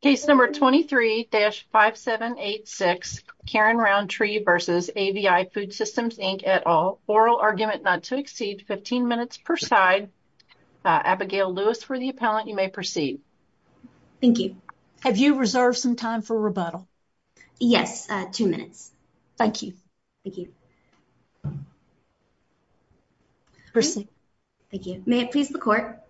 Case number 23-5786 Karen Roundtree v. AVI Foodsystems Inc et al. Oral argument not to exceed 15 minutes per side. Abigail Lewis for the appellant you may proceed. Thank you. Have you reserved some time for rebuttal? Yes, two minutes. Thank you. Thank you. May it please the court.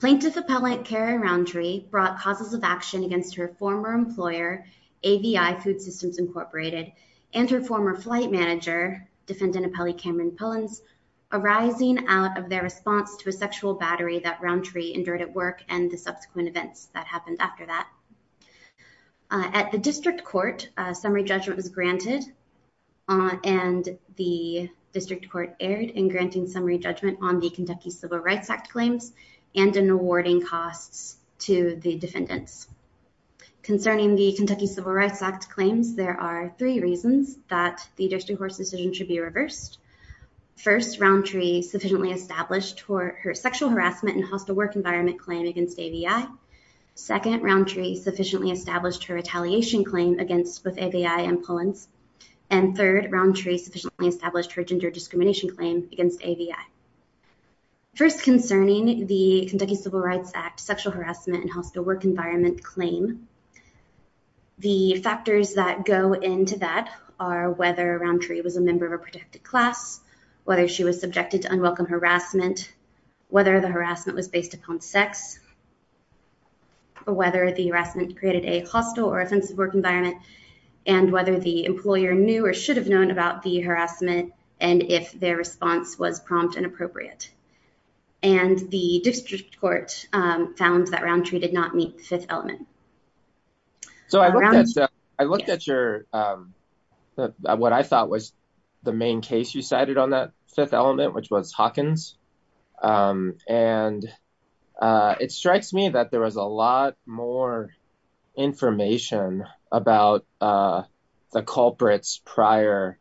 Plaintiff Appellant Karen Roundtree brought causes of action against her former employer AVI Foodsystems Incorporated and her former flight manager, Defendant Appellant Cameron Pullins, arising out of their response to a sexual battery that Roundtree endured at work and the subsequent events that happened after that. At the district court a summary judgment was granted and the district court erred in granting summary judgment on the Kentucky Civil Rights Act claims and in awarding costs to the defendants. Concerning the Kentucky Civil Rights Act claims there are three reasons that the district court's decision should be reversed. First, Roundtree sufficiently established for her sexual harassment and hostile work environment claim against AVI. Second, Roundtree sufficiently established her retaliation claim against both AVI and Pullins. And third, Roundtree sufficiently established her gender discrimination claim against AVI. First, concerning the Kentucky Civil Rights Act sexual harassment and hostile work environment claim, the factors that go into that are whether Roundtree was a member of a protected class, whether she was subjected to unwelcome harassment, whether the harassment was based upon sex, or whether the harassment created a hostile or offensive work environment, and whether the employer knew or should have known about the harassment and if their response was prompt and appropriate. And the district court found that Roundtree did not meet the fifth element. So I looked at your, what I thought was the main case you cited on that fifth element, which was Hawkins, and it strikes me that there was a lot more information about the culprits' prior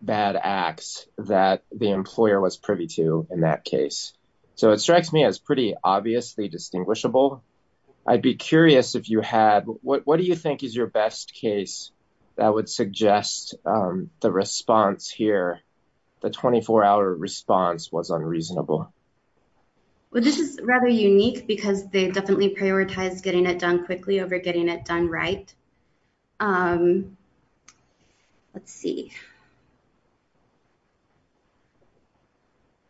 bad acts that the employer was privy to in that case. So it strikes me as pretty obviously distinguishable. I'd be curious if you had, what do you think is your best case that would suggest the response here, the 24-hour response was unreasonable? Well, this is rather unique because they definitely prioritized getting it done quickly over getting it done right. Let's see.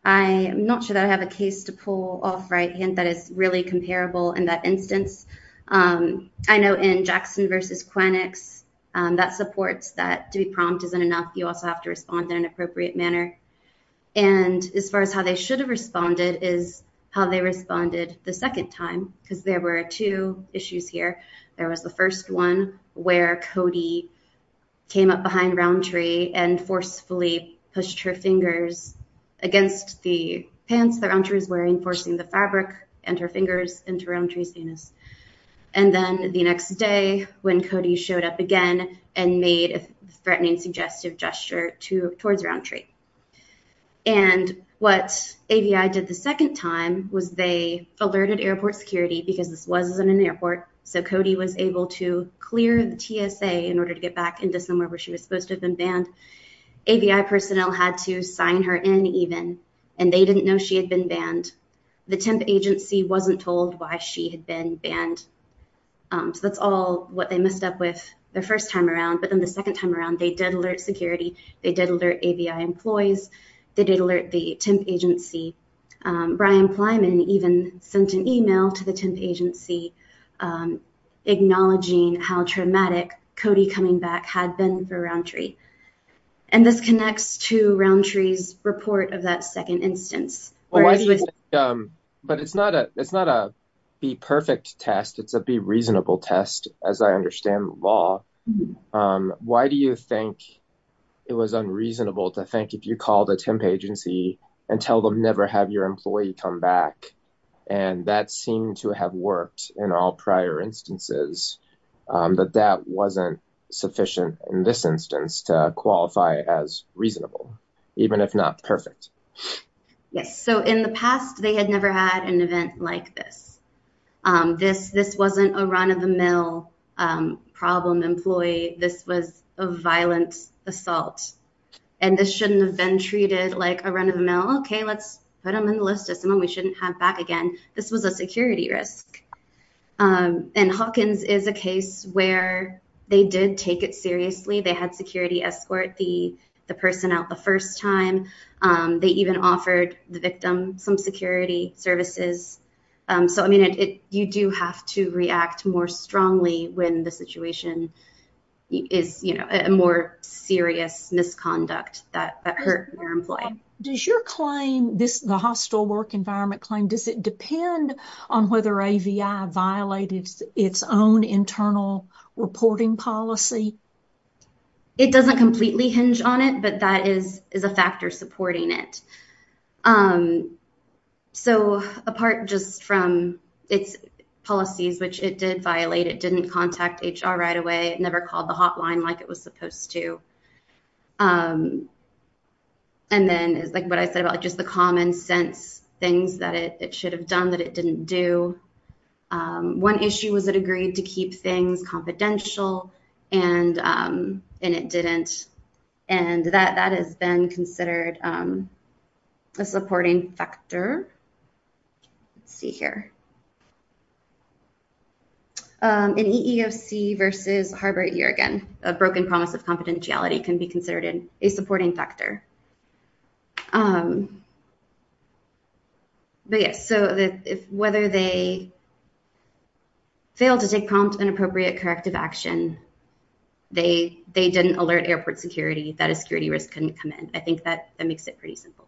I am not sure that I have a case to pull off right, and that is really comparable in that instance. I know in Jackson v. Quennex, that supports that to be prompt isn't enough. You also have to respond in an appropriate manner. And as far as how they should have responded is how they responded the second time, because there were two issues here. There was the first one where Cody came up behind Roundtree and forcefully pushed her fingers against the pants that Roundtree was wearing, forcing the fabric and her fingers into Roundtree's anus. And then the next day when Cody showed up again and made a threatening, suggestive gesture towards Roundtree. And what AVI did the second time was they alerted airport security because this wasn't an airport. So Cody was able to clear the TSA in order to get back into somewhere where she was supposed to have been banned. AVI personnel had to sign her in even, and they didn't know she had been banned. The temp agency wasn't told why she had been banned. So that's all what they messed up with the first time around. But then the second time around, they did alert security. They did alert AVI employees. They did alert the temp agency. Brian Plyman even sent an email to the temp agency, acknowledging how traumatic Cody coming back had been for Roundtree. And this connects to Roundtree's report of that second instance. But it's not a be perfect test. It's a be reasonable test, as I understand the law. Why do you think it was unreasonable to think if you called a temp agency and tell them never have your employee come back, and that seemed to have worked in all prior instances, that that wasn't sufficient in this instance to qualify as reasonable, even if not perfect? Yes. So in the past, they had never had an event like this. This wasn't a run of the mill problem employee. This was a violent assault. And this shouldn't have been treated like a run of the mill. Okay, let's put them in the list of someone we shouldn't have back again. This was a security risk. And Hawkins is a case where they did take it seriously. They had security escort the personnel the first time. They even offered the victim some security services. So I mean, you do have to react more strongly when the situation is, you know, a more serious misconduct that hurt your employee. Does your claim, the hostile work environment claim, does it depend on whether AVI violated its own internal reporting policy? It doesn't completely hinge on it, but that is a factor supporting it. So apart just from its policies, which it did violate, it didn't contact HR right away. It never called the hotline like it was supposed to. And then it's like what I said about just the common sense things that it should have done that it didn't do. One issue was it agreed to keep things confidential, and it didn't. And that has been considered a supporting factor. Let's see here. In EEOC versus Harvard year again, a broken promise of confidentiality can be considered a supporting factor. But yes, so whether they failed to take prompt and appropriate corrective action, they didn't alert airport security that a security risk couldn't come in. I think that makes it pretty simple.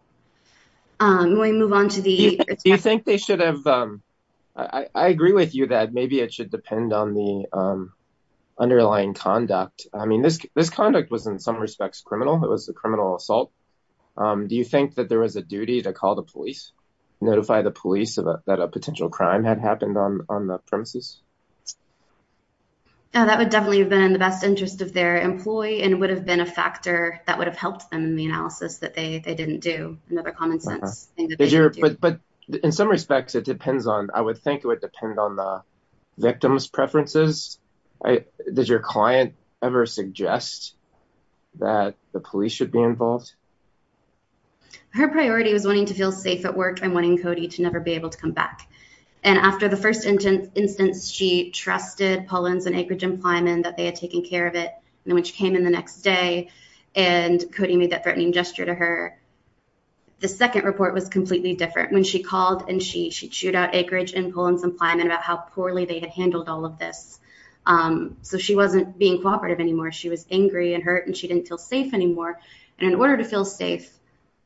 We move on to the... Do you think they should have... I agree with you that maybe it should depend on the underlying conduct. I mean, this conduct was in some respects criminal. It was a criminal assault. Do you think that there was a duty to call the police, notify the police that a potential crime had happened on the premises? Yeah, that would definitely have been in the best interest of their employee and would have been a factor that would have helped them in the analysis that they didn't do, another common sense. But in some respects, it depends on... I would think it would depend on the victim's preferences. Does your client ever suggest that the police should be involved? Her priority was wanting to feel safe at work and wanting Cody to never be able to come back. And after the first instance, she trusted Pullens and Akeridge and Plyman that they had taken care of it. And when she came in the next day, and Cody made that threatening gesture to her, the second report was completely different. When she called and she chewed out Akeridge and Pullens and Plyman about how poorly they had handled all of this. So she wasn't being cooperative anymore. She was angry and hurt, and she didn't feel safe anymore. And in order to feel safe,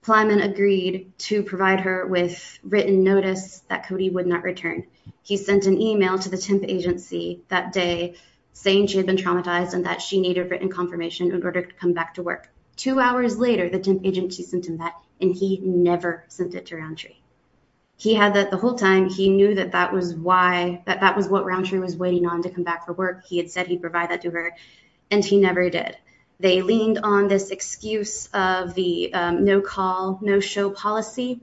Plyman agreed to provide her with written notice that Cody would not return. He sent an email to the temp agency that day saying she had been traumatized and that she needed written confirmation in order to come back to work. Two hours later, the temp agency sent him that, and he never sent it to Roundtree. He had that the whole time. He knew that that was what Roundtree was waiting on to come back for work. He had said he'd provide that to her, and he never did. They leaned on this excuse of the no-call, no-show policy.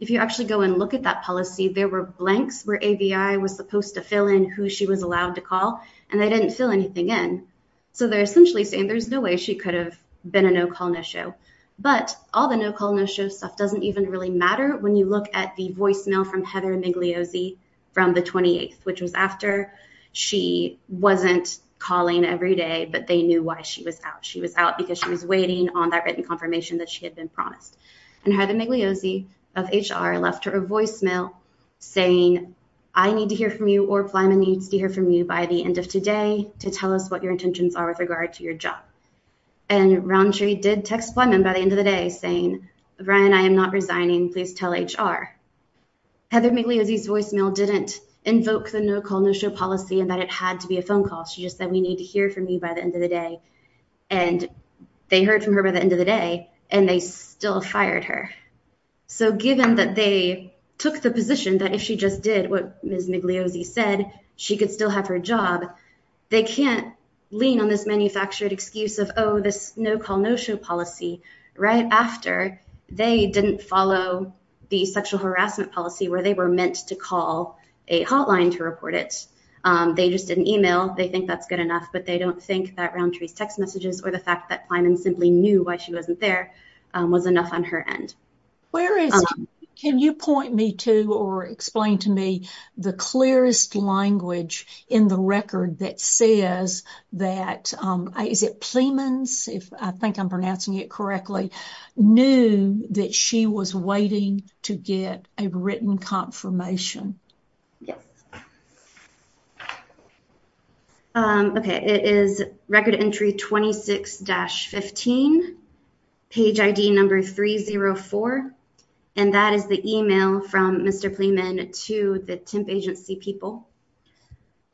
If you actually go and look at that policy, there were blanks where ABI was supposed to fill in who she was allowed to call, and they didn't fill anything in. So they're essentially saying there's no way she could have been a no-call, no-show. But all the no-call, no-show stuff doesn't even really matter when you look at the voicemail from Heather Migliosi from the 28th, which was after. She wasn't calling every day, but they knew why she was out. She was out because she was waiting on that written confirmation that she had been promised. And Heather Migliosi of HR left her a voicemail saying, I need to hear from you, or Plyman needs to hear from you by the end of today to tell us what your intentions are with regard to your job. And Rountree did text Plyman by the end of the day saying, Ryan, I am not resigning. Please tell HR. Heather Migliosi's voicemail didn't invoke the no-call, no-show policy and that it had to be a phone call. She just said, we need to hear from you by the end of the day. And they heard from her by the end of the day, and they still fired her. So given that they took the position that if she just did what Ms. Migliosi said, she could still have her job, they can't lean on this manufactured excuse of, oh, this no-call, no-show policy right after they didn't follow the sexual harassment policy where they were meant to call a hotline to report it. They just didn't email. They think that's good enough, but they don't think that Rountree's text messages or the fact that Plyman simply knew why she wasn't there was enough on her end. Can you point me to or explain to me the clearest language in the record that says that, is it Plyman's, if I think I'm pronouncing it correctly, knew that she was waiting to get a written confirmation? Yes. Okay. It is record entry 26-15, page ID number 304. And that is the email from Mr. Plyman to the temp agency people.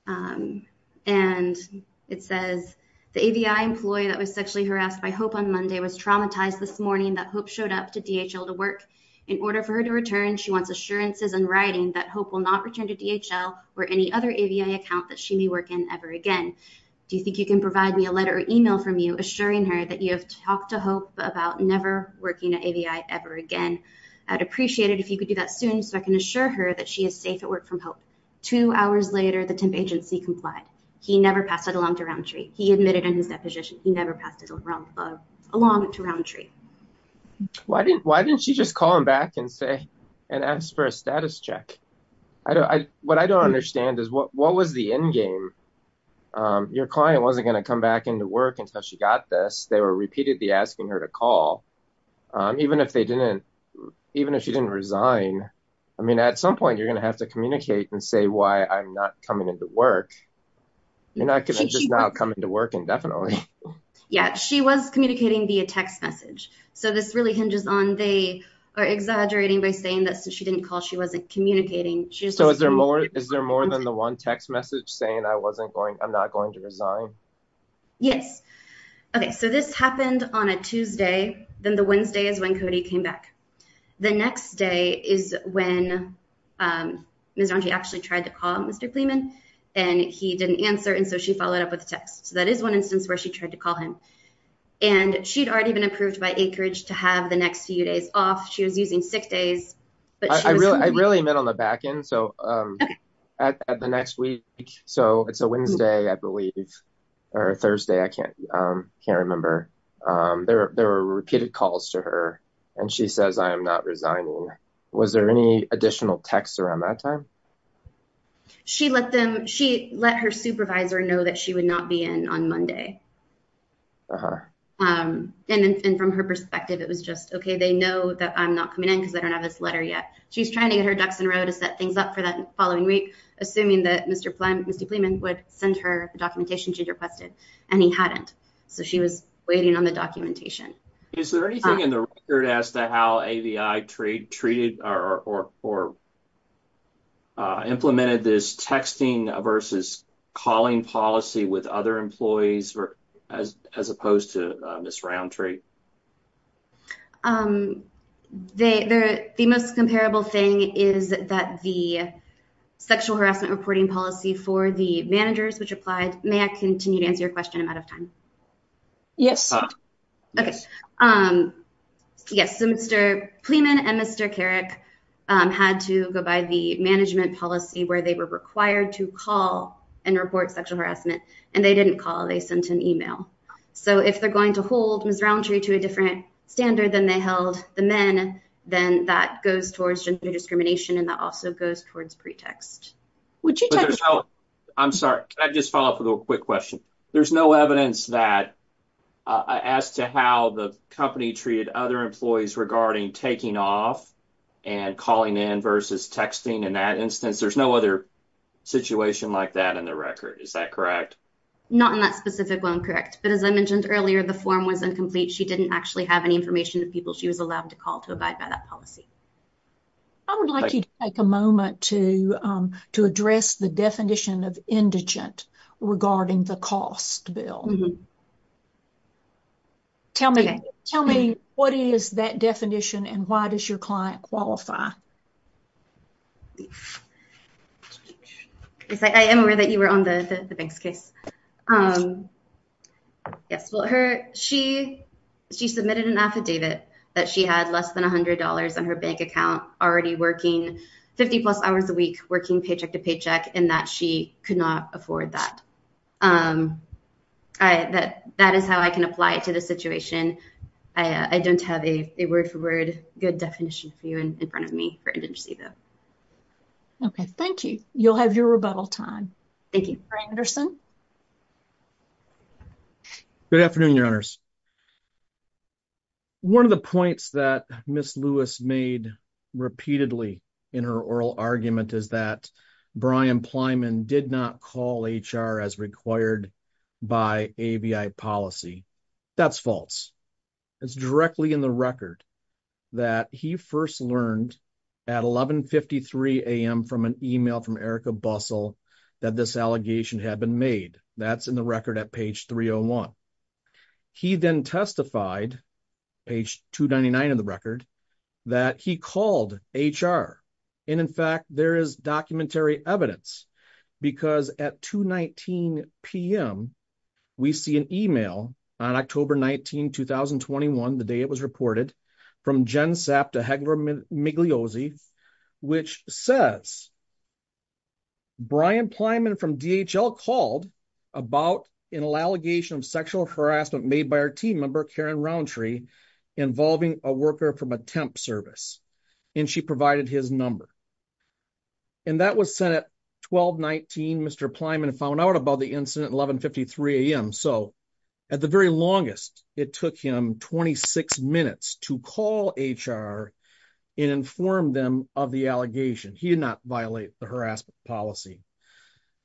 And it says, the AVI employee that was sexually harassed by Hope on Monday was traumatized this morning that Hope showed up to DHL to work. In order for her to return, she wants assurances in writing that Hope will not return to DHL or any other AVI account that she may work in ever again. Do you think you can provide me a letter or email from you assuring her that you have talked to Hope about never working at AVI ever again? I'd appreciate it if you could do that soon so I can assure her that she is safe at work from Hope. Two hours later, the temp agency complied. He never passed it along to Roundtree. He admitted in his deposition, he never passed it along to Roundtree. Why didn't she just call him back and say, and ask for a status check? What I don't understand is what was the end game? Your client wasn't going to come back into work until she got this. They were repeatedly asking her to call. Even if she didn't resign, at some point, you're going to have to communicate and say why I'm not coming into work. You're not going to just now come into work indefinitely. Yeah, she was communicating via text message. This really hinges on they are exaggerating by saying that since she didn't call, she wasn't communicating. Is there more than the one text saying I'm not going to resign? Yes. This happened on a Tuesday, then the Wednesday is when Cody came back. The next day is when Miss Roundtree actually tried to call Mr. Clemon, and he didn't answer. She followed up with a text. That is one instance where she tried to call him. She'd already been approved by Anchorage to have the next few days but- I really met on the back end. At the next week, it's a Wednesday, I believe, or Thursday. I can't remember. There were repeated calls to her. She says, I am not resigning. Was there any additional texts around that time? She let her supervisor know that she would not be in on Monday. For her. From her perspective, it was just, okay, they know that I'm not coming in because I don't have this letter yet. She's trying to get her ducks in a row to set things up for that following week, assuming that Mr. Clemon would send her the documentation she'd requested, and he hadn't. She was waiting on the documentation. Is there anything in the record as to how AVI treated or implemented this texting versus calling policy with other employees, as opposed to Ms. Roundtree? The most comparable thing is that the sexual harassment reporting policy for the managers which applied- may I continue to answer your question? I'm out of time. Yes. Okay. Yes. Mr. Clemon and Mr. Carrick had to go by the management policy where they were required to call and report sexual harassment, and they didn't call. They sent an email. If they're going to hold Ms. Roundtree to a different standard than they held the men, then that goes towards gender discrimination, and that also goes towards pretext. I'm sorry. Can I just follow up with a quick question? There's no evidence as to how the company treated other employees regarding taking off and calling in versus texting. In that instance, there's no other situation like that in the record. Is that correct? Not in that specific one, correct, but as I mentioned earlier, the form was incomplete. She didn't actually have any information of people she was allowed to call to abide by that policy. I would like you to take a moment to address the definition of indigent regarding the cost bill. Okay. Tell me what is that definition, and why does your client qualify? Yes. I am aware that you were on the bank's case. Yes. Well, she submitted an affidavit that she had less than $100 on her bank account already working 50-plus hours a week working paycheck-to-paycheck, and that she could not afford that. That is how I can apply it to the situation. I don't have a word-for-word good definition for you in front of me for indigency, though. Okay. Thank you. You'll have your rebuttal time. Thank you. Brian Anderson. Good afternoon, Your Honors. One of the points that Ms. Lewis made repeatedly in her oral argument is that Brian Plyman did not call HR as required by ABI policy. That's false. It's directly in the record that he first learned at 11.53 a.m. from an email from Erica Bussell that this allegation had been made. That's in the record at page 301. He then testified, page 299 of the record, that he called HR. In fact, there is documentary evidence because at 2.19 p.m., we see an email on October 19, 2021, the day it was reported, from Jen Sapp to Hegler Migliozzi, which says, Brian Plyman from DHL called about an allegation of sexual harassment made by our team member, Karen Rountree, involving a worker from a temp service, and she provided his number. And that was sent at 12.19, Mr. Plyman found out about the incident at 11.53 a.m. So at the very longest, it took him 26 minutes to call HR and inform them of the allegation. He did not violate the harassment policy.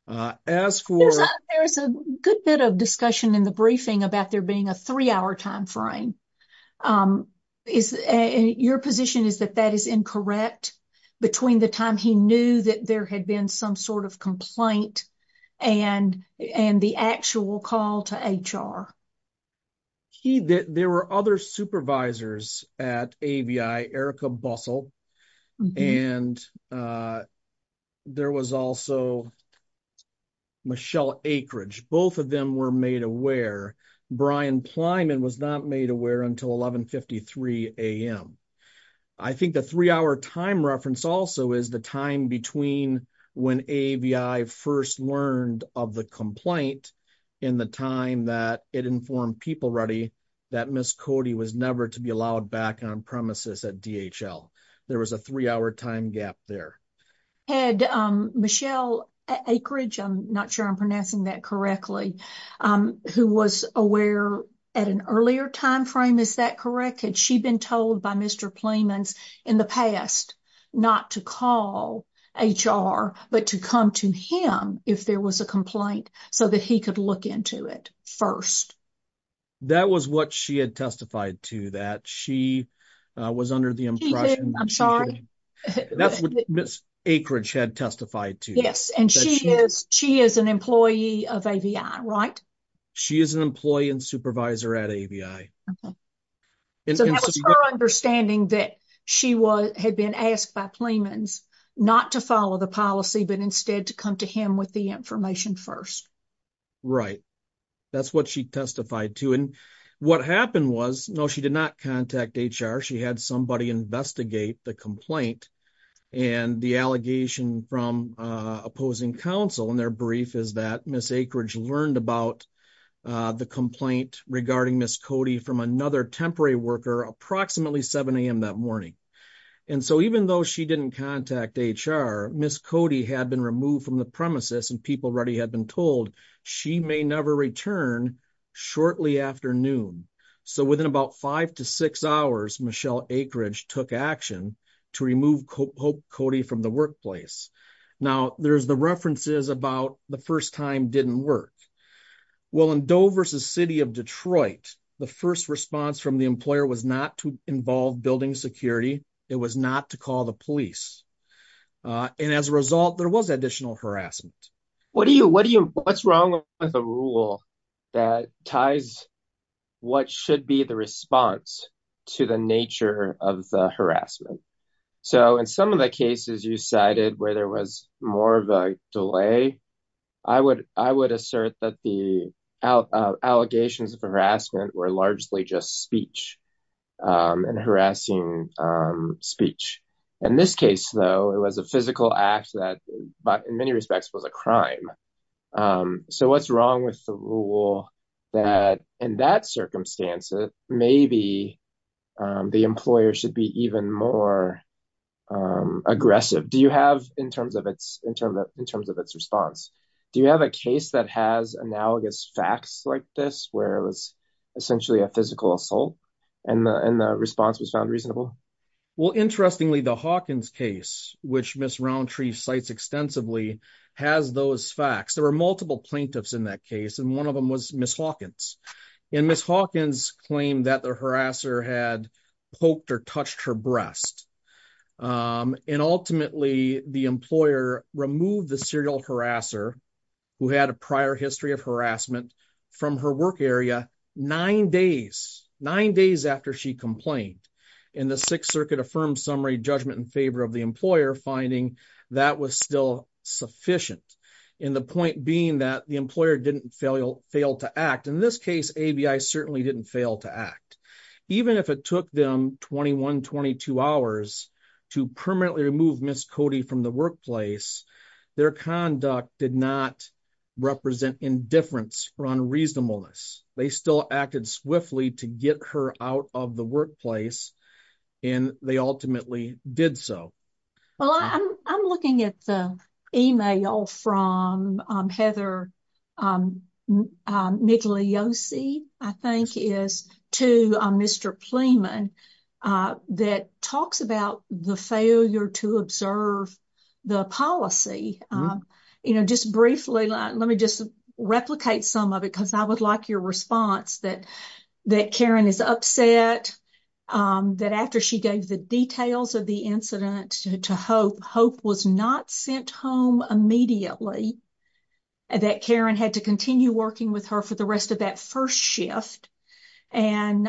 As for— There's a good bit of discussion in the briefing about there being a three-hour time frame. Your position is that that is incorrect between the time he knew that there had been some sort of complaint and the actual call to HR? There were other supervisors at AVI, Erica Bussell, and there was also Michelle Akridge. Both of them were made aware. Brian Plyman was not made aware until 11.53 a.m. I think the three-hour time reference also is the time between when AVI first learned of the complaint and the time that it informed PeopleReady that Ms. Cody was never to be allowed back on-premises at DHL. There was a three-hour time gap there. Had Michelle Akridge—I'm not sure I'm pronouncing that correctly—who was aware at an earlier time frame, is that correct? Had she been told by Mr. Plyman in the past not to call HR but to come to him if there was a complaint so that he could look into it first? That was what she had testified to, that she was under the impression— She didn't, I'm sorry. That's what Ms. Akridge had testified to. Yes, and she is an employee of AVI, right? She is an employee and supervisor at AVI. So that was her understanding, that she had been asked by Plyman not to follow the policy but instead to come to him with the information first. Right. That's what she testified to. And what happened was, no, she did not contact HR. She had somebody investigate the complaint. And the allegation from opposing counsel in their brief is that Ms. Akridge learned about the complaint regarding Ms. Cody from another temporary worker approximately 7 a.m. that morning. And so even though she didn't contact HR, Ms. Cody had been removed from the premises and people already had been told she may never return shortly after noon. So within about five to six hours, Michelle Akridge took action to remove Hope Cody from the workplace. Now, there's the references about the first time didn't work. Well, in Dover City of Detroit, the first response from the employer was not to involve building security. It was not to call the police. And as a result, there was additional harassment. What's wrong with a rule that ties what should be the response to the nature of the harassment? So in some of the cases you cited where there was more of a delay, I would assert that the allegations of harassment were largely just speech and harassing speech. In this case, though, it was a physical act that in many respects was a crime. So what's wrong with the rule that in that circumstance, maybe the employer should be even more aggressive? Do you have in terms of its response? Do you have a case that has analogous facts like this where it was essentially a physical assault and the response was found reasonable? Well, interestingly, the Hawkins case, which Ms. Roundtree cites extensively, has those facts. There were multiple plaintiffs in that case, and one of them was Ms. Hawkins. And Ms. Hawkins claimed that the harasser had poked or touched her breast. And ultimately, the employer removed the serial harasser who had a prior history of harassment from her work area nine days, nine days after she complained. And the Sixth Circuit affirmed summary judgment in favor of the employer finding that was still sufficient. And the point being that the employer didn't fail to act. In this case, ABI certainly didn't fail to act. Even if it took them 21, 22 hours to permanently remove Ms. Cody from the workplace, their conduct did not represent indifference or unreasonableness. They still acted swiftly to get her out of the workplace. And they ultimately did so. Well, I'm looking at the email from Heather Migliosi, I think it is, to Mr. Pleman that talks about the failure to observe the policy. You know, just briefly, let me just replicate some of it because I would like your response that Karen is upset that after she gave the details of the incident to HOPE, HOPE was not sent home immediately, that Karen had to continue working with her for the rest of that first shift. And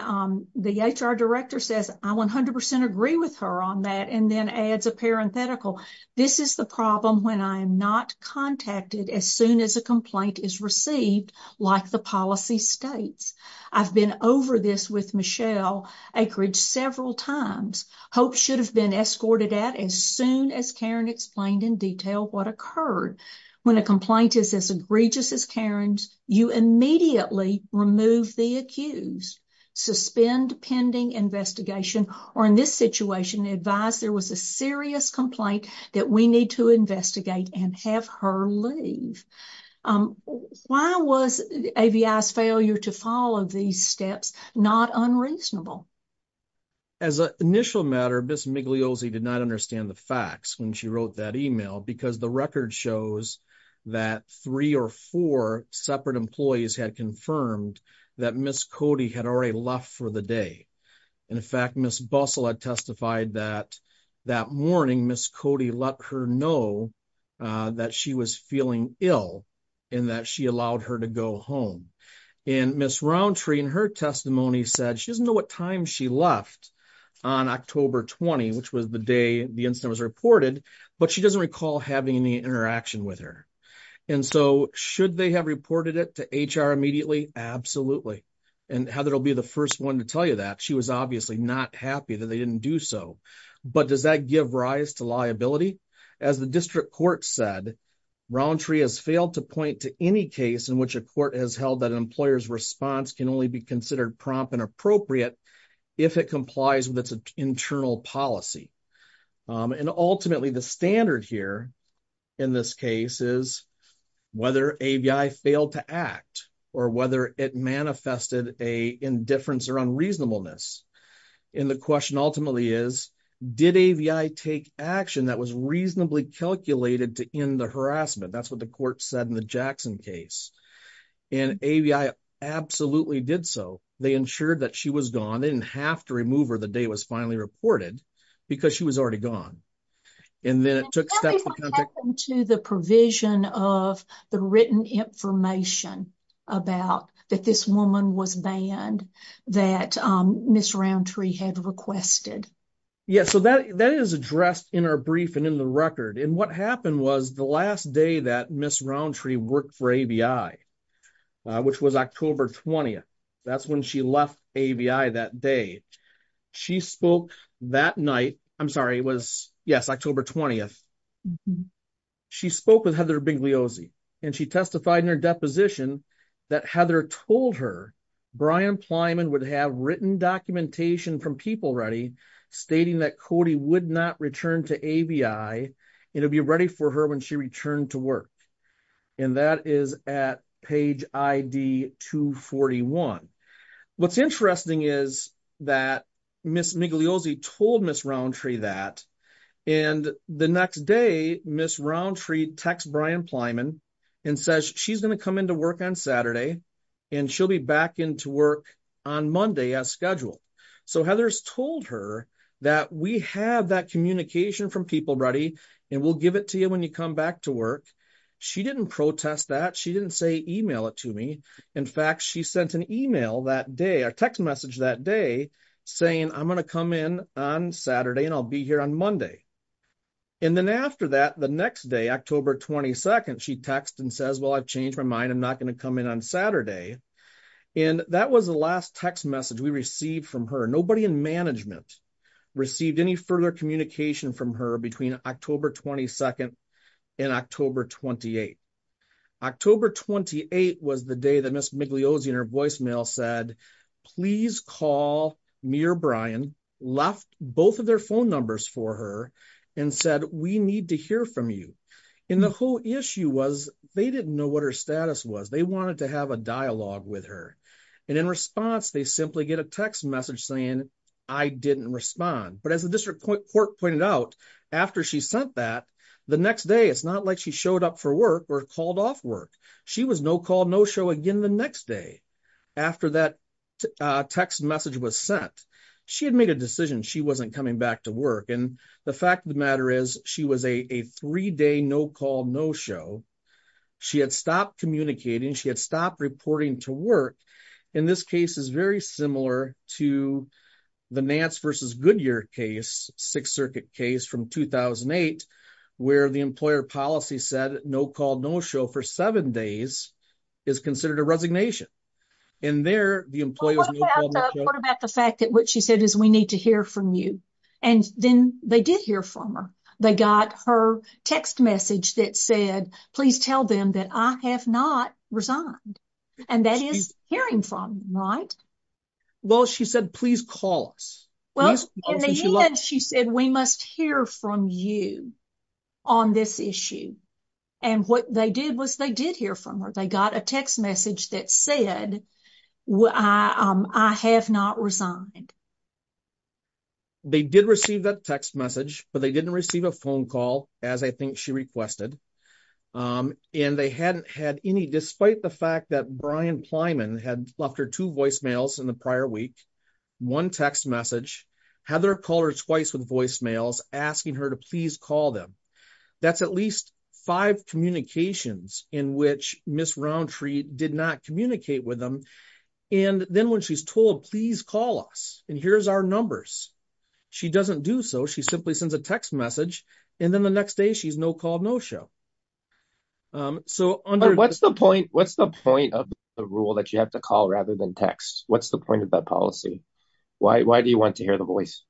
the HR director says, I 100% agree with her on that, and then adds a parenthetical. This is the problem when I'm not contacted as soon as a complaint is received, like the policy states. I've been over this with Acreage several times. HOPE should have been escorted out as soon as Karen explained in detail what occurred. When a complaint is as egregious as Karen's, you immediately remove the accused, suspend pending investigation, or in this situation, advise there was a serious complaint that we need to investigate and have her leave. Why was AVI's failure to follow these steps not unreasonable? As an initial matter, Ms. Migliosi did not understand the facts when she wrote that email because the record shows that three or four separate employees had confirmed that Ms. Cody had already left for the day. In fact, Ms. Bussell had testified that that morning, Ms. Cody let her know that she was feeling ill and that she allowed her to go home. Ms. Roundtree, in her testimony, said she doesn't know what time she left on October 20, which was the day the incident was reported, but she doesn't recall having any interaction with her. Should they have reported it to HR immediately? Absolutely. Heather will be the first one to tell you that. She was obviously not happy that they didn't do so, but does that give rise to liability? As the district court said, Roundtree has failed to point to any case in which a court has held that an employer's response can only be considered prompt and appropriate if it complies with its internal policy. Ultimately, the standard here in this case is whether AVI failed to act or whether it manifested an indifference or unreasonableness. The question ultimately is, did AVI take action that was reasonably calculated to end the incident? AVI absolutely did so. They ensured that she was gone. They didn't have to remove her the day it was finally reported because she was already gone. And then it took steps... What happened to the provision of the written information about that this woman was banned that Ms. Roundtree had requested? Yeah, so that is addressed in our brief and in the record. And the last day that Ms. Roundtree worked for AVI, which was October 20th, that's when she left AVI that day. She spoke that night. I'm sorry, it was October 20th. She spoke with Heather Bingliozzi and she testified in her deposition that Heather told her Brian Plyman would have written documentation from PeopleReady stating that Cody would not return to AVI. It'll be ready for her when she returned to work. And that is at page ID 241. What's interesting is that Ms. Bingliozzi told Ms. Roundtree that. And the next day, Ms. Roundtree texts Brian Plyman and says she's going to come into work on Saturday and she'll be back into work on Monday as scheduled. So Heather's told her that we have that communication from PeopleReady and we'll give it to you when you come back to work. She didn't protest that. She didn't say email it to me. In fact, she sent an email that day, a text message that day saying I'm going to come in on Saturday and I'll be here on Monday. And then after that, the next day, October 22nd, she texts and says, well, I've changed my mind. I'm not going to come in on Saturday. And that was the last text message we received from her. Nobody in management received any further communication from her between October 22nd and October 28th. October 28th was the day that Ms. Bingliozzi in her voicemail said, please call me or Brian, left both of their phone numbers for her and said we need to hear from you. And the whole issue was they didn't know what her status was. They wanted to have a dialogue with her. And in response, they simply get a text message saying I didn't respond. But as the district court pointed out, after she sent that, the next day, it's not like she showed up for work or called off work. She was no call, no show again the next day after that text message was sent. She had made a decision. She wasn't coming back to work. And the fact of the matter is she was a three-day no call, no show. She had stopped communicating. She had stopped reporting to work. And this case is very similar to the Nance v. Goodyear case, Sixth Circuit case from 2008, where the employer policy said no call, no show for seven days is considered a resignation. And there, the employer... What about the fact that what she said is we need to hear from you? And then they did hear from her. They got her text message that said, please tell them that I have not resigned. And that is hearing from them, right? Well, she said, please call us. Well, in the end, she said, we must hear from you on this issue. And what they did was they did hear from her. They got a text message that said, I have not resigned. They did receive that text message, but they didn't receive a phone call, as I think she requested. And they hadn't had any... Despite the fact that Brian Plyman had left her two voicemails in the prior week, one text message, Heather called her twice with voicemails asking her to please call them. That's at least five communications in which Ms. Roundtree did not communicate with them. And then when she's told, please call us, and here's our numbers, she doesn't do so. She simply sends a text message. And then the next day, she's no call, no show. So under... What's the point of the rule that you have to call rather than text? What's the point of that policy? Why do you want to hear the voice?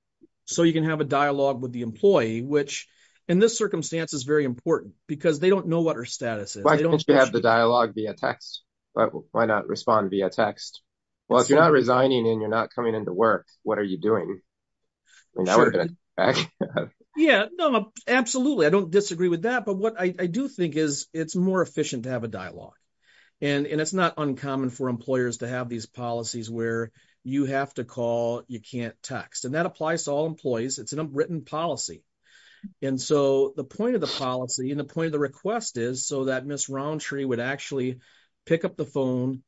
So you can have a dialogue with the employee, which in this circumstance is very important because they don't know what her status is. Why can't you have the dialogue via text? Why not respond via text? Well, if you're not resigning and you're not coming into work, what are you doing? Yeah, absolutely. I don't disagree with that. But what I do think is it's more efficient to dialogue. And it's not uncommon for employers to have these policies where you have to call, you can't text. And that applies to all employees. It's an unwritten policy. And so the point of the policy and the point of the request is so that Ms. Roundtree would actually pick up the phone,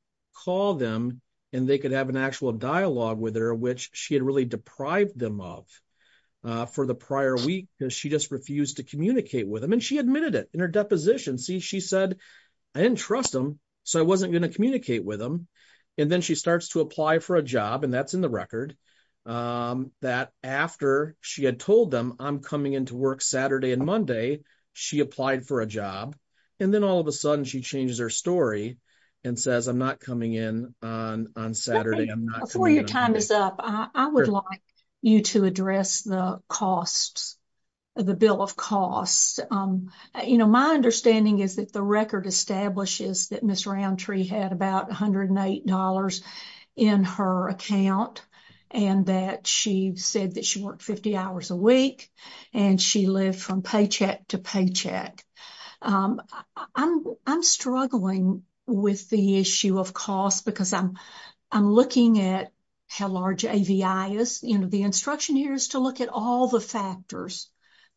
call them, and they could have an actual dialogue with her, which she had really deprived them of for the prior week because she just refused to communicate with them. And she her deposition. See, she said, I didn't trust them. So I wasn't going to communicate with them. And then she starts to apply for a job. And that's in the record that after she had told them I'm coming into work Saturday and Monday, she applied for a job. And then all of a sudden she changes her story and says, I'm not coming in on Saturday. Before your time is up, I would like you to address the costs of the bill of costs. My understanding is that the record establishes that Ms. Roundtree had about $108 in her account and that she said that she worked 50 hours a week and she lived from paycheck to paycheck. I'm struggling with the issue of cost because I'm looking at how large AVI is. The instruction here is to look at all the factors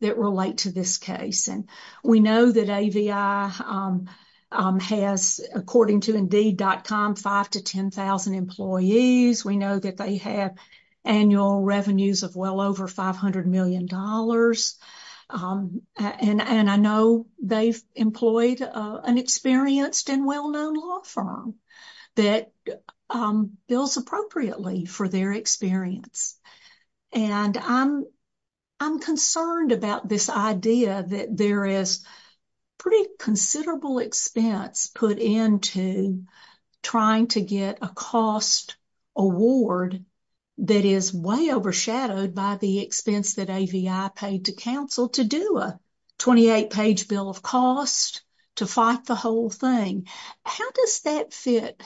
that relate to this case. And we know that AVI has, according to Indeed.com, 5,000 to 10,000 employees. We know that they have annual revenues of well over $500 million. And I know they've employed an experienced and well-known law firm that bills appropriately for their experience. And I'm concerned about this idea that there is pretty considerable expense put into trying to get a cost award that is way overshadowed by the expense that AVI paid to counsel to do a 28-page bill of cost to fight the whole thing. How does that fit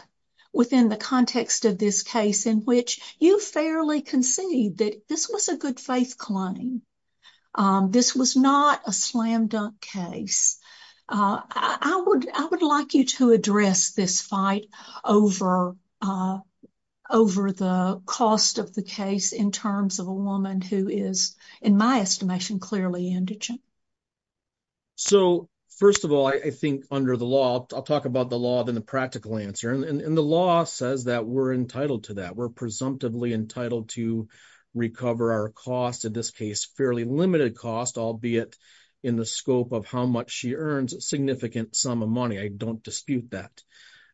within the context of this case in which you fairly concede that this was a good faith claim? This was not a slam dunk case. I would like you to address this fight over the cost of the case in terms of a woman who is, in my estimation, clearly indigent. So, first of all, I think under the law, I'll talk about the law, then the practical answer. And the law says that we're entitled to that. We're presumptively entitled to recover our cost, in this case, fairly limited cost, albeit in the scope of how much she earns, a significant sum of money. I don't dispute that.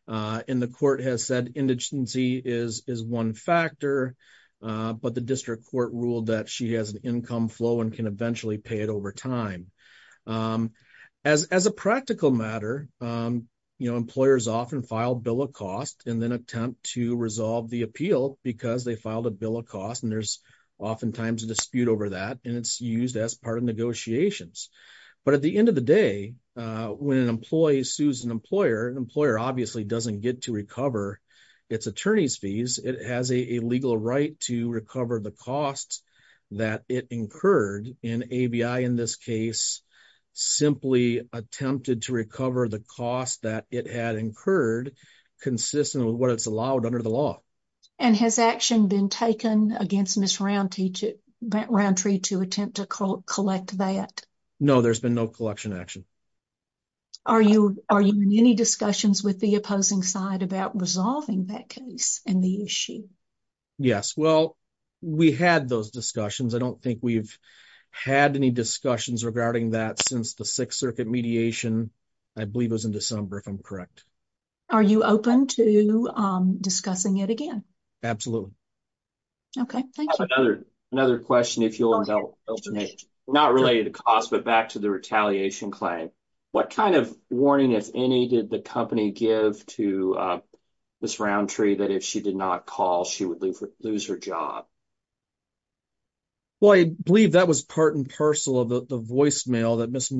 And the court has said indigency is one factor, but the district court ruled that she has an income flow and can eventually pay it over time. As a practical matter, employers often file a bill of cost and then attempt to resolve the appeal because they filed a bill of cost. And there's oftentimes a dispute over that, and it's used as part of negotiations. But at the end of the day, when an employee sues an employer, an employer obviously doesn't get to recover its attorney's fees. It has a legal right to recover the costs that it incurred in ABI, in this case, simply attempted to recover the cost that it had incurred consistent with what it's allowed under the law. And has action been taken against Ms. Roundtree to attempt to collect that? No, there's been no collection action. Are you in any discussions with the opposing side about resolving that case and the issue? Yes. Well, we had those discussions. I don't think we've had any discussions regarding that since the Sixth Circuit mediation. I believe it was in December, if I'm correct. Are you open to discussing it again? Absolutely. Okay. Thank you. Another question, if you'll help me, not related to cost, but back to the retaliation claim. What kind of warning, if any, did the company give to Ms. Roundtree that if she did not call, she would lose her job? Well, I believe that was part and parcel of the voicemail that Ms.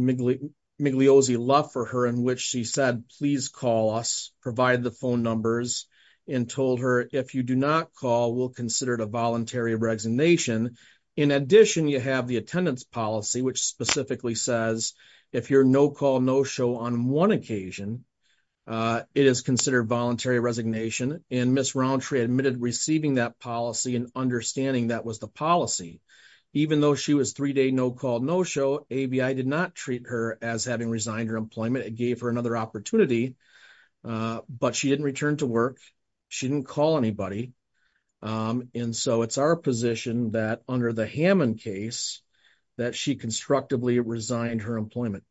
Migliosi left for her, in which she said, please call us, provide the phone numbers, and told her, if you do not call, we'll consider it a voluntary resignation. In addition, you have the attendance policy, which specifically says, if you're no call, no show on one occasion, it is considered voluntary resignation. Ms. Roundtree admitted receiving that policy and understanding that was the policy. Even though she was three-day no call, no show, ABI did not treat her as having resigned her employment. It gave her another opportunity, but she didn't return to work. She didn't call anybody. And so, it's our position that under the Hammond case, that she constructively resigned her employment.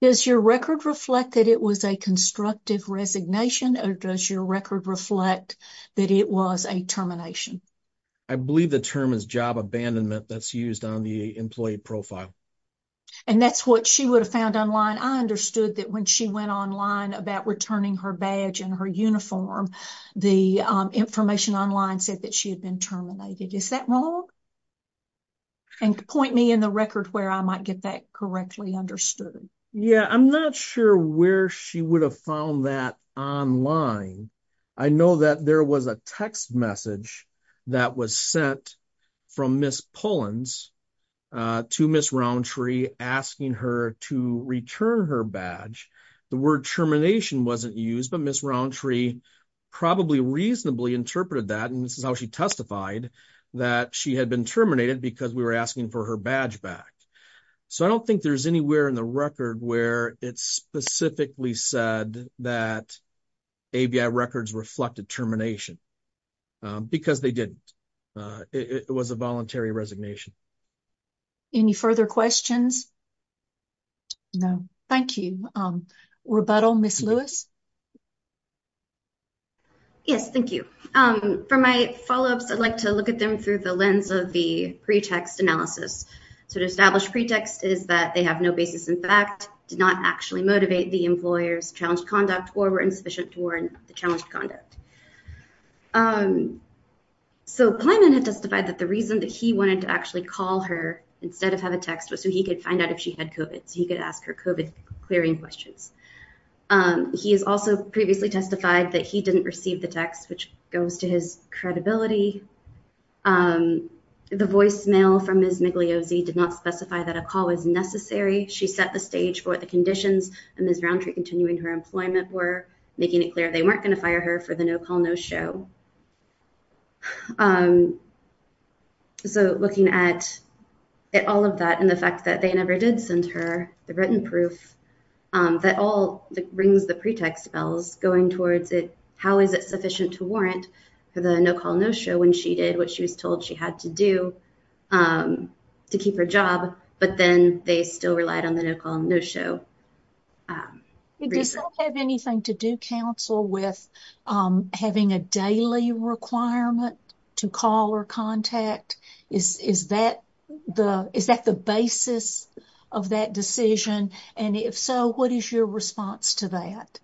Does your record reflect that it was a constructive resignation, or does your record reflect that it was a termination? I believe the term is job abandonment that's used on the employee profile. And that's what she would have found online. I understood that when she went about returning her badge and her uniform, the information online said that she had been terminated. Is that wrong? And point me in the record where I might get that correctly understood. Yeah, I'm not sure where she would have found that online. I know that there was a text message that was sent from Ms. Pullens to Ms. Roundtree asking her to return her badge. The word termination wasn't used, but Ms. Roundtree probably reasonably interpreted that. And this is how she testified that she had been terminated because we were asking for her badge back. So, I don't think there's anywhere in the record where it's specifically said that ABI records reflected termination because they didn't. It was a voluntary resignation. Any further questions? No. Thank you. Rebuttal, Ms. Lewis? Yes, thank you. For my follow-ups, I'd like to look at them through the lens of the pretext analysis. So, to establish pretext is that they have no basis in fact, did not actually motivate the employer's challenged conduct or were insufficient to warrant the challenged conduct. So, Plyman had testified that the reason that he wanted to actually call her instead of have a text was so he could find out if she had COVID. So, he could ask her COVID clearing questions. He has also previously testified that he didn't receive the text, which goes to his credibility. The voicemail from Ms. Migliosi did not specify that a call was necessary. She set the stage for the conditions and Ms. Rountree continuing her employment were making it clear they weren't going to fire her for the no-call, no-show. So, looking at all of that and the fact that they never did send her the written proof, that all rings the pretext bells going towards it. How is it sufficient to warrant for the no-call, no-show when she did what she was told she had to do to keep her job, but then they still relied on the no-call, no-show? Does that have anything to do, counsel, with having a daily requirement to call or contact? Is that the basis of that decision? And if so, what is your response to that?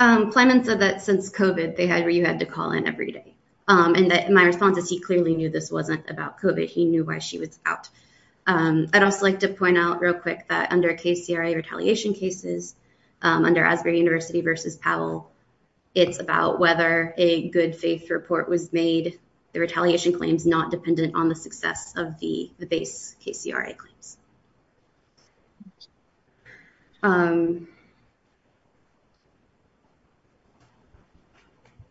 Plyman said that since COVID, you had to call in every day. And my response is he clearly knew this wasn't about COVID. He knew why she was out. I'd also like to point out real quick that under KCRA retaliation cases, under Asbury University versus Powell, it's about whether a good faith report was made, the retaliation claims not dependent on the success of the base KCRA claims. All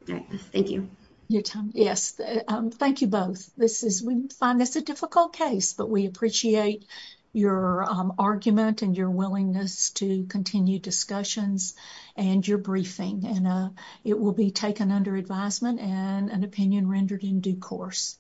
right. Thank you. Yes. Thank you both. We find this a difficult case, but we appreciate your argument and your willingness to continue discussions and your briefing. And it will be taken under advisement and an opinion rendered in due course.